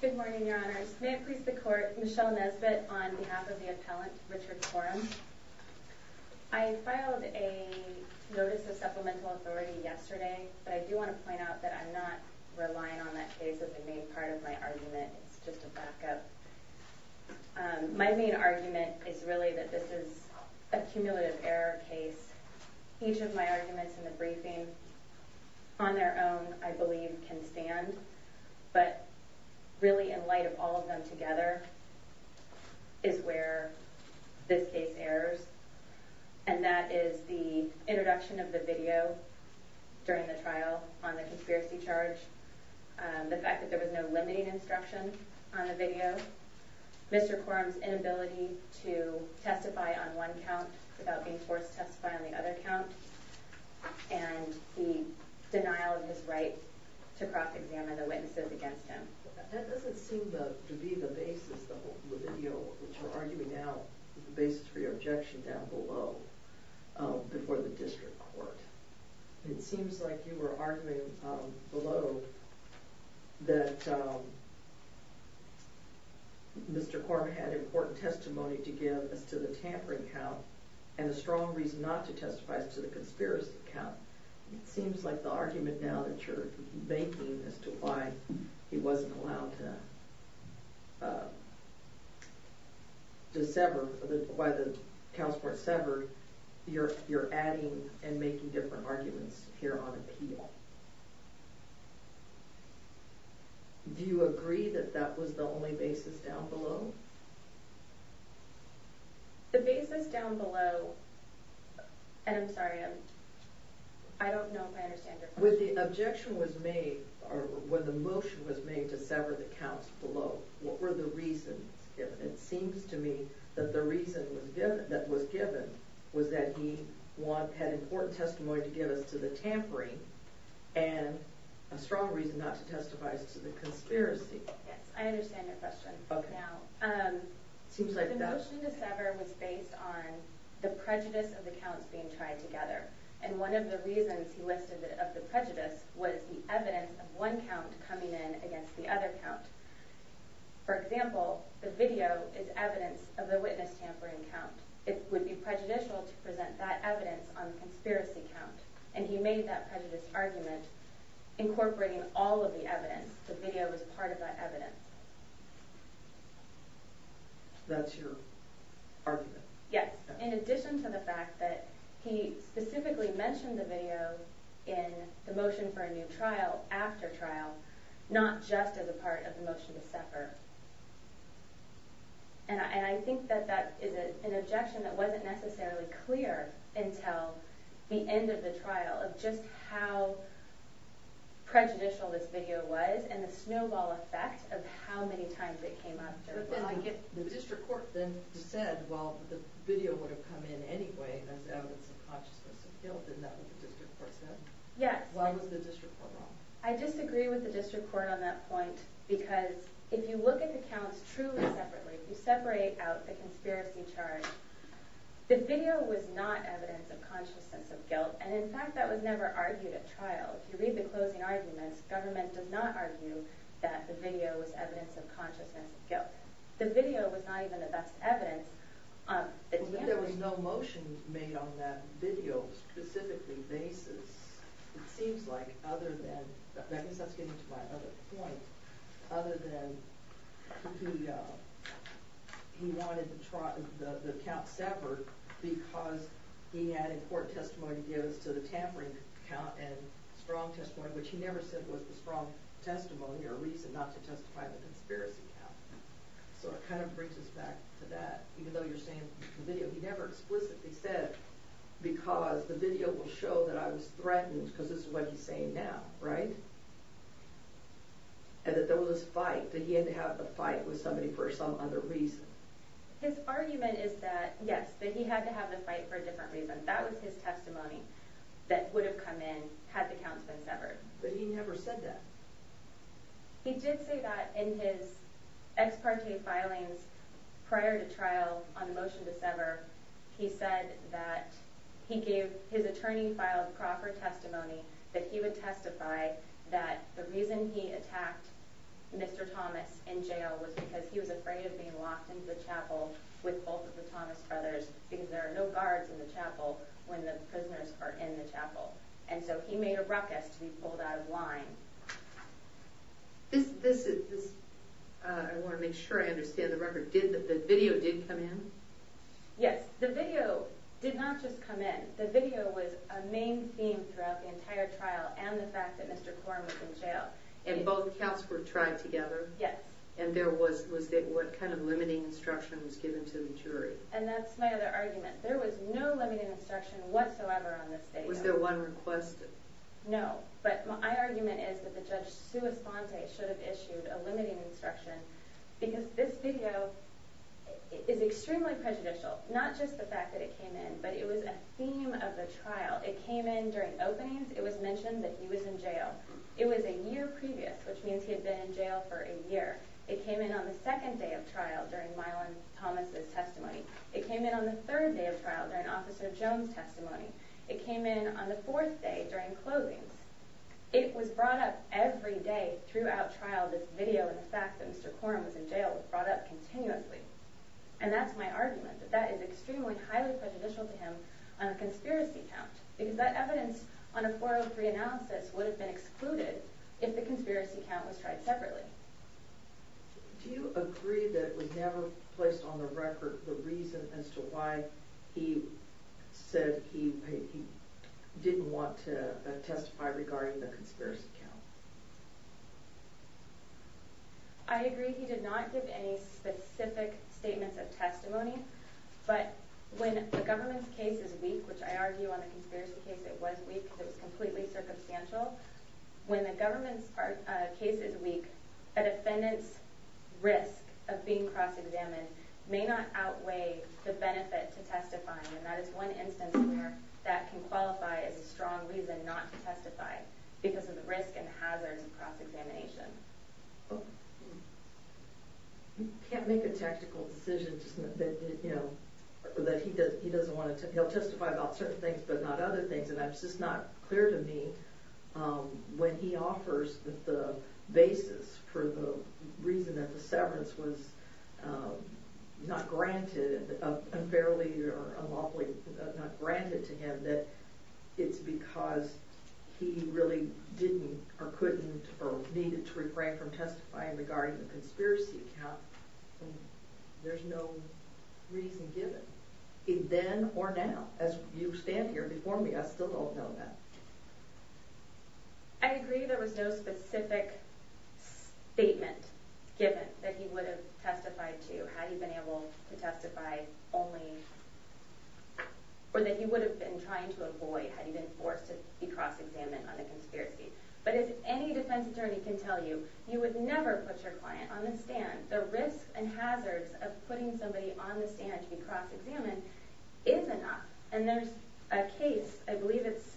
Good morning, your honors. May it please the court, Michelle Nesbitt on behalf of the appellant Richard Corum. I filed a notice of supplemental authority yesterday, but I do want to point out that I'm not relying on that case as a main part of my argument. It's just a backup. My main argument is really that this is a cumulative error case. Each of my arguments in the briefing, on their own, I believe can stand. But really in light of all of them together is where this case errs. And that is the introduction of the video during the trial on the conspiracy charge. The fact that there was no limiting instruction on the video. Mr. Corum's inability to testify on one count without being forced to testify on the other count. And the denial of his right to cross-examine the witnesses against him. That doesn't seem to be the basis of the video, which you're arguing now, the basis for your objection down below, before the district court. It seems like you were arguing below that Mr. Corum had important testimony to give as to the tampering count and a strong reason not to testify as to the conspiracy count. It seems like the argument now that you're making as to why he wasn't allowed to sever, why the counts weren't severed, you're adding and making different arguments here on appeal. Do you agree that that was the only basis down below? The basis down below, and I'm sorry, I don't know if I understand your question. When the objection was made, or when the motion was made to sever the counts below, what were the reasons given? It seems to me that the reason that was given was that he had important testimony to give as to the tampering and a strong reason not to testify as to the conspiracy. Yes, I understand your question now. The motion to sever was based on the prejudice of the counts being tried together, and one of the reasons he listed of the prejudice was the evidence of one count coming in against the other count. For example, the video is evidence of the witness tampering count. It would be prejudicial to present that evidence on the conspiracy count, and he made that prejudice argument incorporating all of the evidence. The video was part of that evidence. That's your argument? Yes, in addition to the fact that he specifically mentioned the video in the motion for a new trial, after trial, not just as a part of the motion to sever. I think that that is an objection that wasn't necessarily clear until the end of the trial, of just how prejudicial this video was and the snowball effect of how many times it came up. The district court then said, well, the video would have come in anyway as evidence of consciousness of guilt. Isn't that what the district court said? Yes. Why was the district court wrong? I disagree with the district court on that point, because if you look at the counts truly separately, you separate out the conspiracy charge. The video was not evidence of consciousness of guilt, and in fact that was never argued at trial. If you read the closing arguments, government does not argue that the video was evidence of consciousness of guilt. The video was not even the best evidence. If there was no motion made on that video specifically basis, it seems like, other than, I guess that's getting to my other point, other than he wanted the count severed because he had important testimony to give us to the tampering count and strong testimony, which he never said was the strong testimony or reason not to testify to the conspiracy count. So it kind of brings us back to that, even though you're saying the video, he never explicitly said because the video will show that I was threatened, because this is what he's saying now, right? And that there was this fight, that he had to have a fight with somebody for some other reason. His argument is that, yes, that he had to have a fight for a different reason. That was his testimony that would have come in had the counts been severed. But he never said that. He did say that in his ex parte filings prior to trial on the motion to sever. He said that he gave his attorney filed proper testimony that he would testify that the reason he attacked Mr. Thomas in jail was because he was afraid of being locked into the chapel with both of the Thomas brothers, because there are no guards in the chapel when the prisoners are in the chapel. And so he made a ruckus to be pulled out of line. This is I want to make sure I understand the record did that the video did come in. Yes, the video did not just come in. The video was a main theme throughout the entire trial and the fact that Mr. Corn was in jail. And both counts were tried together. Yes. And there was was that what kind of limiting instruction was given to the jury? And that's my other argument. There was no limiting instruction whatsoever on this day. Was there one request? No. But my argument is that the judge, Sue Esponte, should have issued a limiting instruction because this video is extremely prejudicial, not just the fact that it came in, but it was a theme of the trial. It came in during openings. It was mentioned that he was in jail. It was a year previous, which means he had been in jail for a year. It came in on the second day of trial during Mylon Thomas's testimony. It came in on the third day of trial during Officer Jones testimony. It came in on the fourth day during closings. It was brought up every day throughout trial. This video and the fact that Mr. Corn was in jail was brought up continuously. And that's my argument that that is extremely highly prejudicial to him on a conspiracy count because that evidence on a 403 analysis would have been excluded if the conspiracy count was tried separately. Do you agree that we never placed on the record the reason as to why he said he didn't want to testify regarding the conspiracy count? I agree he did not give any specific statements of testimony. But when the government's case is weak, which I argue on the conspiracy case, it was weak, it was completely circumstantial. When the government's case is weak, a defendant's risk of being cross-examined may not outweigh the benefit to testifying. And that is one instance where that can qualify as a strong reason not to testify because of the risk and hazards of cross-examination. You can't make a tactical decision that he doesn't want to. He'll testify about certain things, but not other things. And it's just not clear to me when he offers that the basis for the reason that the severance was not granted unfairly or unlawfully, not granted to him, that it's because he really didn't or couldn't or needed to refrain from testifying regarding the conspiracy count. There's no reason given, then or now. As you stand here before me, I still don't know that. I agree there was no specific statement given that he would have testified to had he been able to testify only, or that he would have been trying to avoid had he been forced to be cross-examined on the conspiracy. But as any defense attorney can tell you, you would never put your client on the stand. The risk and hazards of putting somebody on the stand to be cross-examined is enough. And there's a case, I believe it's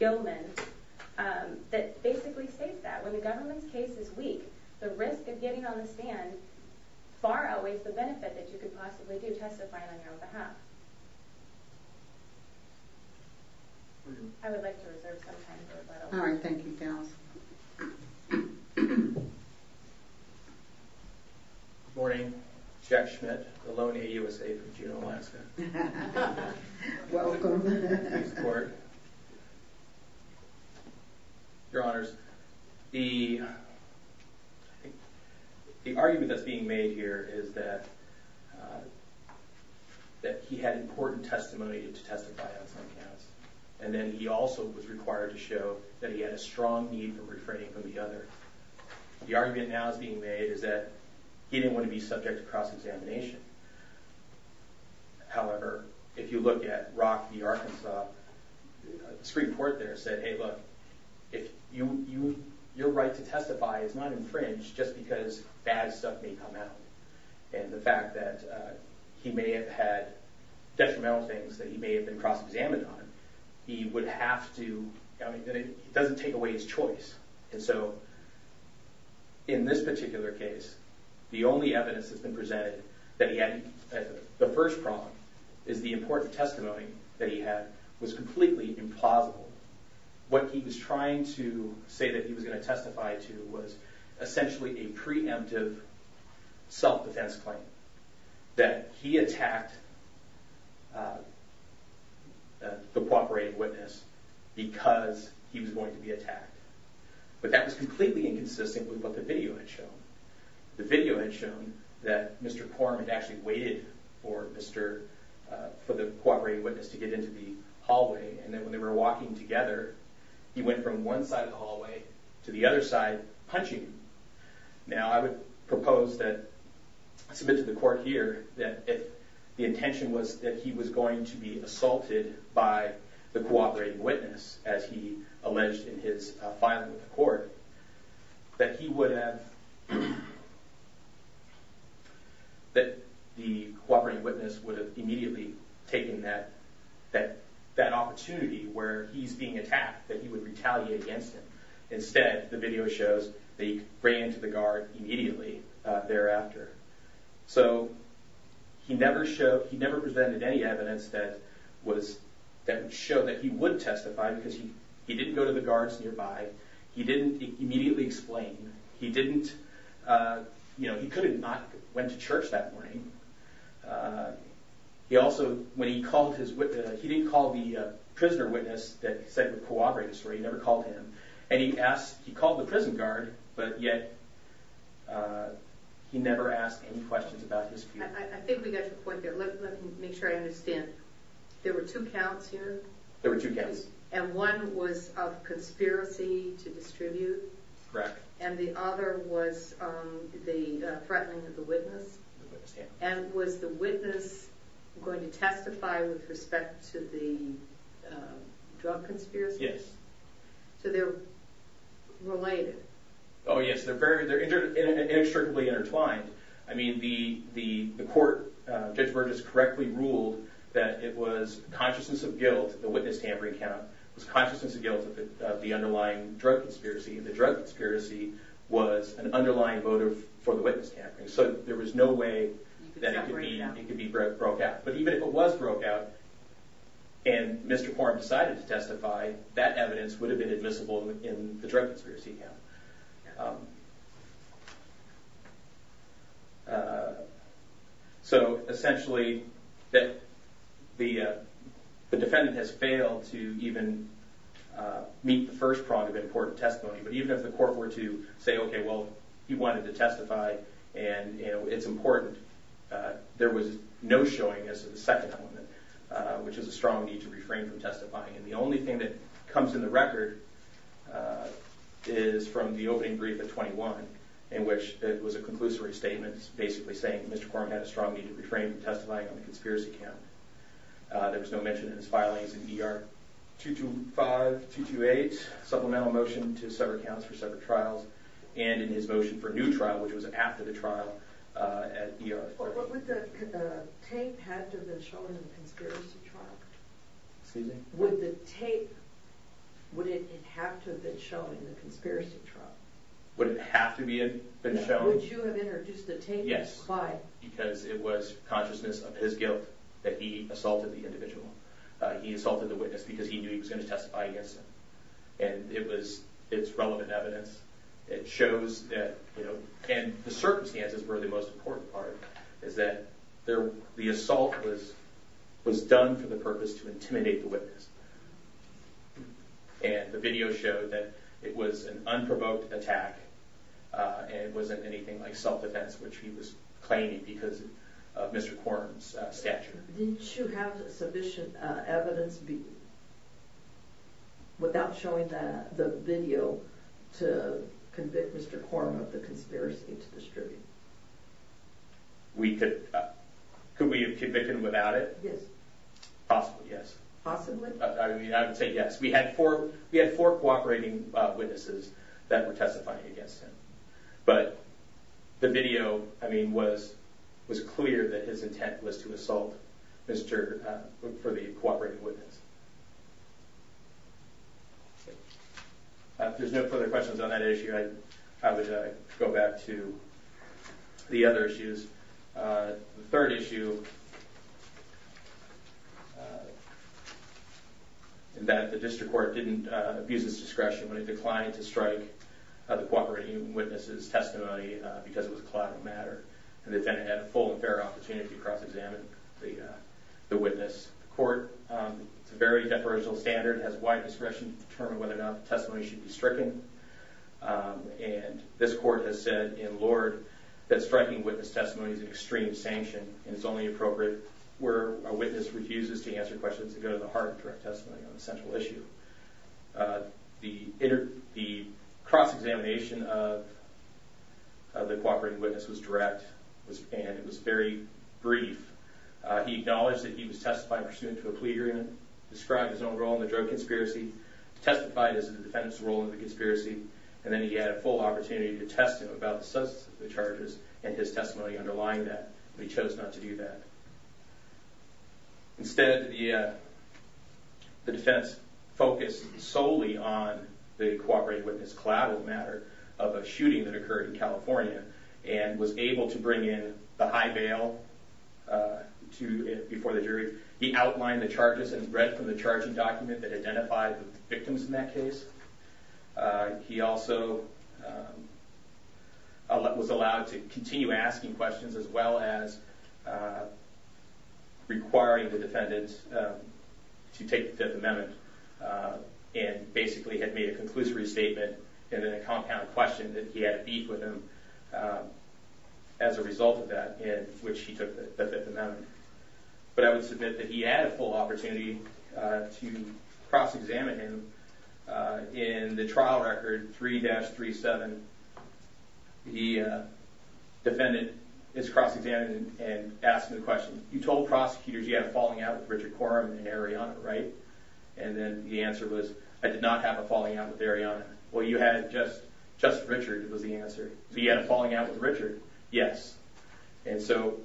Gilman, that basically states that. When the government's case is weak, the risk of getting on the stand far outweighs the benefit that you could possibly do testifying on your behalf. I would like to reserve some time for rebuttal. All right, thank you. Morning, Jack Schmidt, Maloney USA for Juneau, Alaska. Welcome. Thanks, Court. Your Honors, the argument that's being made here is that he had important testimony to testify on some counts. And then he also was required to show that he had a strong need for refraining from the other. The argument now that's being made is that he didn't want to be subject to cross-examination. However, if you look at Rock v. Arkansas, the Supreme Court there said, hey, look, your right to testify is not infringed just because bad stuff may come out. And the fact that he may have had detrimental things that he may have been cross-examined on, he would have to, I mean, it doesn't take away his choice. And so in this particular case, the only evidence that's been presented that he had the first problem is the important testimony that he had was completely implausible. What he was trying to say that he was going to testify to was essentially a preemptive self-defense claim that he attacked the cooperating witness because he was going to be attacked. But that was completely inconsistent with what the video had shown. The video had shown that Mr. Quorum had actually waited for Mr., for the cooperating witness to get into the hallway. And then when they were walking together, he went from one side of the hallway to the other side, punching. Now, I would propose that, I submit to the court here, that if the intention was that he was going to be assaulted by the cooperating witness, as he alleged in his filing with the court, that he would have, that the cooperating witness would have immediately taken that opportunity where he's being attacked, that he would retaliate against him. Instead, the video shows that he ran to the guard immediately thereafter. So he never presented any evidence that would show that he would testify because he didn't go to the guards nearby. He didn't immediately explain. He didn't, you know, he could have not went to church that morning. He also, when he called his witness, he didn't call the prisoner witness that said the cooperating story. He never called him. And he asked, he called the prison guard, but yet he never asked any questions about his future. I think we got your point there. Let me make sure I understand. There were two counts here. There were two counts. And one was of conspiracy to distribute. Correct. And the other was the threatening of the witness. And was the witness going to testify with respect to the drug conspiracy? Yes. So they're related. Oh, yes. They're very, they're inextricably intertwined. I mean, the court, Judge Burgess correctly ruled that it was consciousness of guilt, the witness tampering count, was consciousness of guilt of the underlying drug conspiracy. And the drug conspiracy was an underlying motive for the witness tampering. So there was no way that it could be broke out. But even if it was broke out and Mr. Quorum decided to testify, that evidence would have been admissible in the drug conspiracy count. So essentially, the defendant has failed to even meet the first prong of important testimony. But even if the court were to say, OK, well, he wanted to testify and it's important, there was no showing as to the second element, which is a strong need to refrain from testifying. And the only thing that comes in the record is from the opening brief of 21, in which it was a conclusory statement, basically saying Mr. Quorum had a strong need to refrain from testifying on the conspiracy count. There was no mention in his filings in ER 225, 228, supplemental motion to separate counts for separate trials, and in his motion for a new trial, which was after the trial at ER. What would the tape have to show in the conspiracy trial? Excuse me? Would the tape, would it have to have been shown in the conspiracy trial? Would it have to have been shown? Would you have introduced the tape? Yes. Why? Because it was consciousness of his guilt that he assaulted the individual. He assaulted the witness because he knew he was going to testify against him. And it was, it's relevant evidence. It shows that, you know, and the circumstances were the most important part, is that there, the assault was, was done for the purpose to intimidate the witness. And the video showed that it was an unprovoked attack, and it wasn't anything like self-defense, which he was claiming because of Mr. Quorum's stature. Didn't you have the submission evidence be, without showing that, the video to convict Mr. Quorum of the conspiracy to distribute? We could, could we have convicted him without it? Yes. Possibly, yes. Possibly? I mean, I would say yes. We had four, we had four cooperating witnesses that were testifying against him. But the video, I mean, was, was clear that his intent was to assault Mr., for the cooperating witness. There's no further questions on that issue. I, I would go back to the other issues. The third issue, that the district court didn't abuse its discretion when it declined to strike the cooperating witness's testimony because it was a collateral matter, and the defendant had a full and fair opportunity to cross-examine the, the witness. The court, it's a very deferential standard, has wide discretion to determine whether or not the testimony should be stricken. And this court has said in Lord that striking witness testimony is an extreme sanction, and it's only appropriate where a witness refuses to answer questions that go to the heart of direct testimony on a central issue. The inter, the cross-examination of the cooperating witness was direct, and it was very brief. He acknowledged that he was testifying pursuant to a plea agreement, described his own role in the drug conspiracy, testified as the defendant's role in the conspiracy, and then he had a full opportunity to test him about the substance of the charges and his testimony underlying that. He chose not to do that. Instead, the, the defense focused solely on the cooperating witness collateral matter of a shooting that occurred in California, and was able to bring in the high bail to, before the jury. He outlined the charges and read from the charging document that identified the victims in that case. He also was allowed to continue asking questions as well as requiring the defendant to take the Fifth Amendment and basically had made a conclusive restatement and then a compound question that he had to beef with him as a result of that in which he took the Fifth Amendment. But I would submit that he had a full opportunity to cross-examine him. In the trial record 3-37, the defendant is cross-examined and asked him the question, you told prosecutors you had a falling out with Richard Corum and Ariana, right? And then the answer was, I did not have a falling out with Ariana. Well, you had just, just Richard was the answer. So he had a falling out with Richard, yes. And so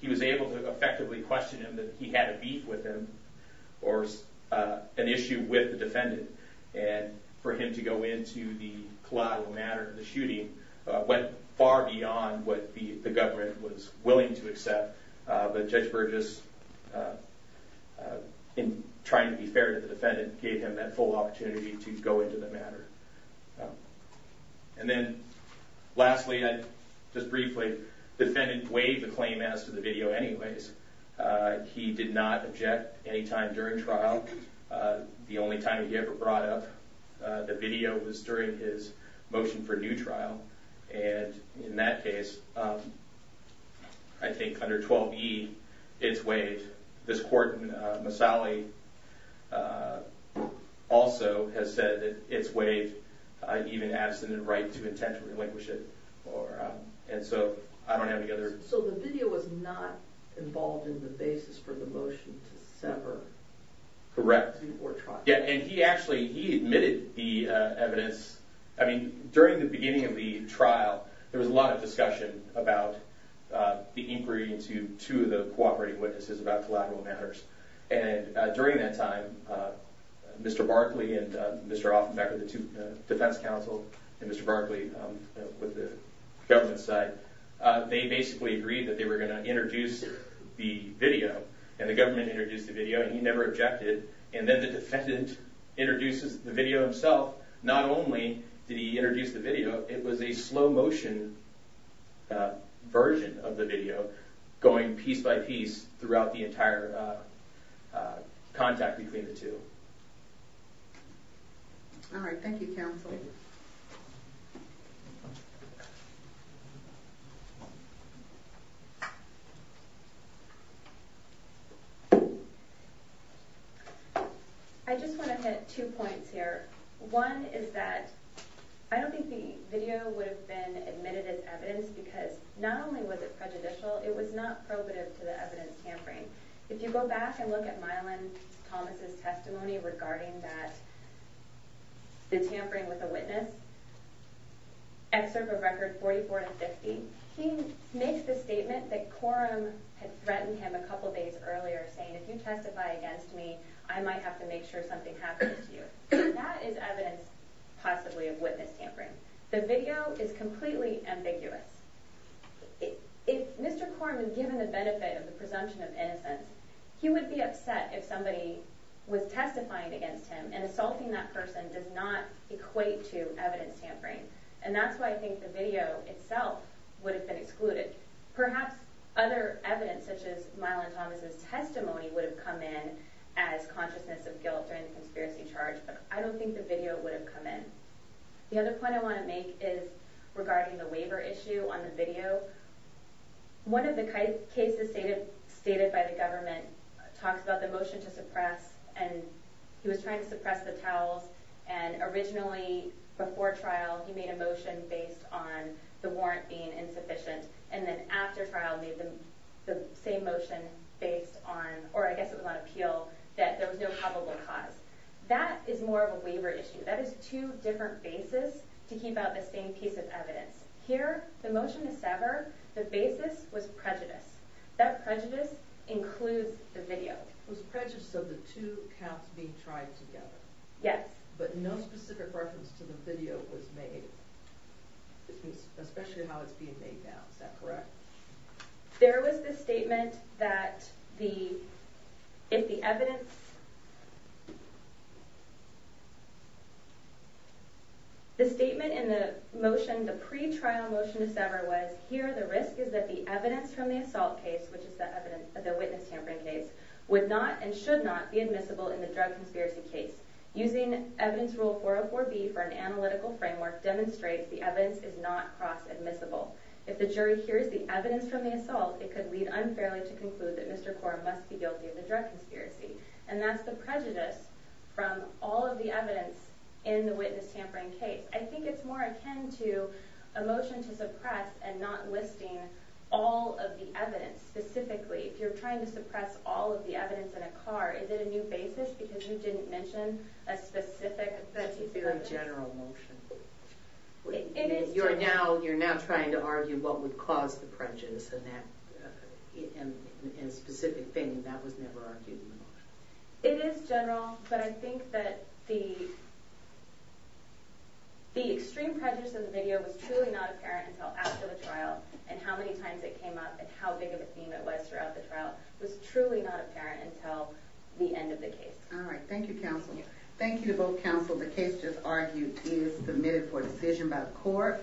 he was able to effectively question him that he had a beef with him or an issue with the defendant. And for him to go into the collateral matter of the shooting went far beyond what the government was willing to accept. But Judge Burgess, in trying to be fair to the defendant, gave him that full opportunity to go into the matter. And then lastly, I just briefly, defendant waived the claim as to the video anyways. He did not object any time during trial. The only time he ever brought up the video was during his motion for new trial. And in that case, I think under 12E, it's waived. This court, Masali, also has said that it's waived, even abstinent right to intent to relinquish it. And so I don't have any other... So the video was not involved in the basis for the motion to sever? Correct. Before trial. Yeah, and he actually, he admitted the evidence. I mean, during the beginning of the trial, there was a lot of discussion about the inquiry to the cooperating witnesses about collateral matters. And during that time, Mr. Barkley and Mr. Offenbecker, the two defense counsel, and Mr. Barkley with the government side, they basically agreed that they were going to introduce the video. And the government introduced the video. He never objected. And then the defendant introduces the video himself. Not only did he introduce the video, it was a slow motion version of the video going piece by piece throughout the entire contact between the two. All right. Thank you, counsel. I just want to hit two points here. One is that I don't think the video would have been admitted as evidence because not only was it prejudicial, it was not probative to the evidence tampering. If you go back and look at Mylon Thomas's testimony regarding that, the tampering with a witness, excerpt of record 44 and 50, he makes the statement that Coram had threatened him a couple of days earlier saying, if you testify against me, I might have to make sure something happens to you. That is evidence possibly of witness tampering. The video is completely ambiguous. If Mr. Coram had been given the benefit of the presumption of innocence, he would be upset if somebody was testifying against him and assaulting that person does not equate to evidence tampering. And that's why I think the video itself would have been excluded. Perhaps other evidence such as Mylon Thomas's testimony would have come in as consciousness of guilt and conspiracy charge, but I don't think the video would have come in. The other point I want to make is regarding the waiver issue on the video. One of the cases stated by the government talks about the motion to suppress and he was trying to suppress the towels and originally before trial, he made a motion based on the warrant being insufficient and then after trial, made the same motion based on, or I guess it was on appeal, that there was no probable cause. That is more of a waiver issue. That is two different bases to keep out the same piece of evidence. Here, the motion to sever, the basis was prejudice. That prejudice includes the video. It was prejudice of the two counts being tried together. Yes. But no specific reference to the video was made, especially how it's being made now. Is that correct? There was the statement that if the evidence... The statement in the motion, the pre-trial motion to sever was, here the risk is that the evidence from the assault case, which is the witness tampering case, would not and should not be admissible in the drug conspiracy case. Using evidence rule 404B for an analytical framework demonstrates the evidence is not cross-admissible. If the jury hears the evidence from the assault, it could lead unfairly to conclude that Mr. Kaur must be guilty of the drug conspiracy. And that's the prejudice from all of the evidence in the witness tampering case. I think it's more akin to a motion to suppress and not listing all of the evidence. Specifically, if you're trying to suppress all of the evidence in a car, is it a new basis? Because you didn't mention a specific... That's a very general motion. It is general. You're now trying to argue what would cause the prejudice and that specific thing. That was never argued in the motion. It is general, but I think that the... The extreme prejudice in the video was truly not apparent until after the trial and how many times it came up and how big of a theme it was throughout the trial was truly not apparent until the end of the case. All right. Thank you, counsel. Thank you to both counsel. The case just argued is submitted for decision by the court.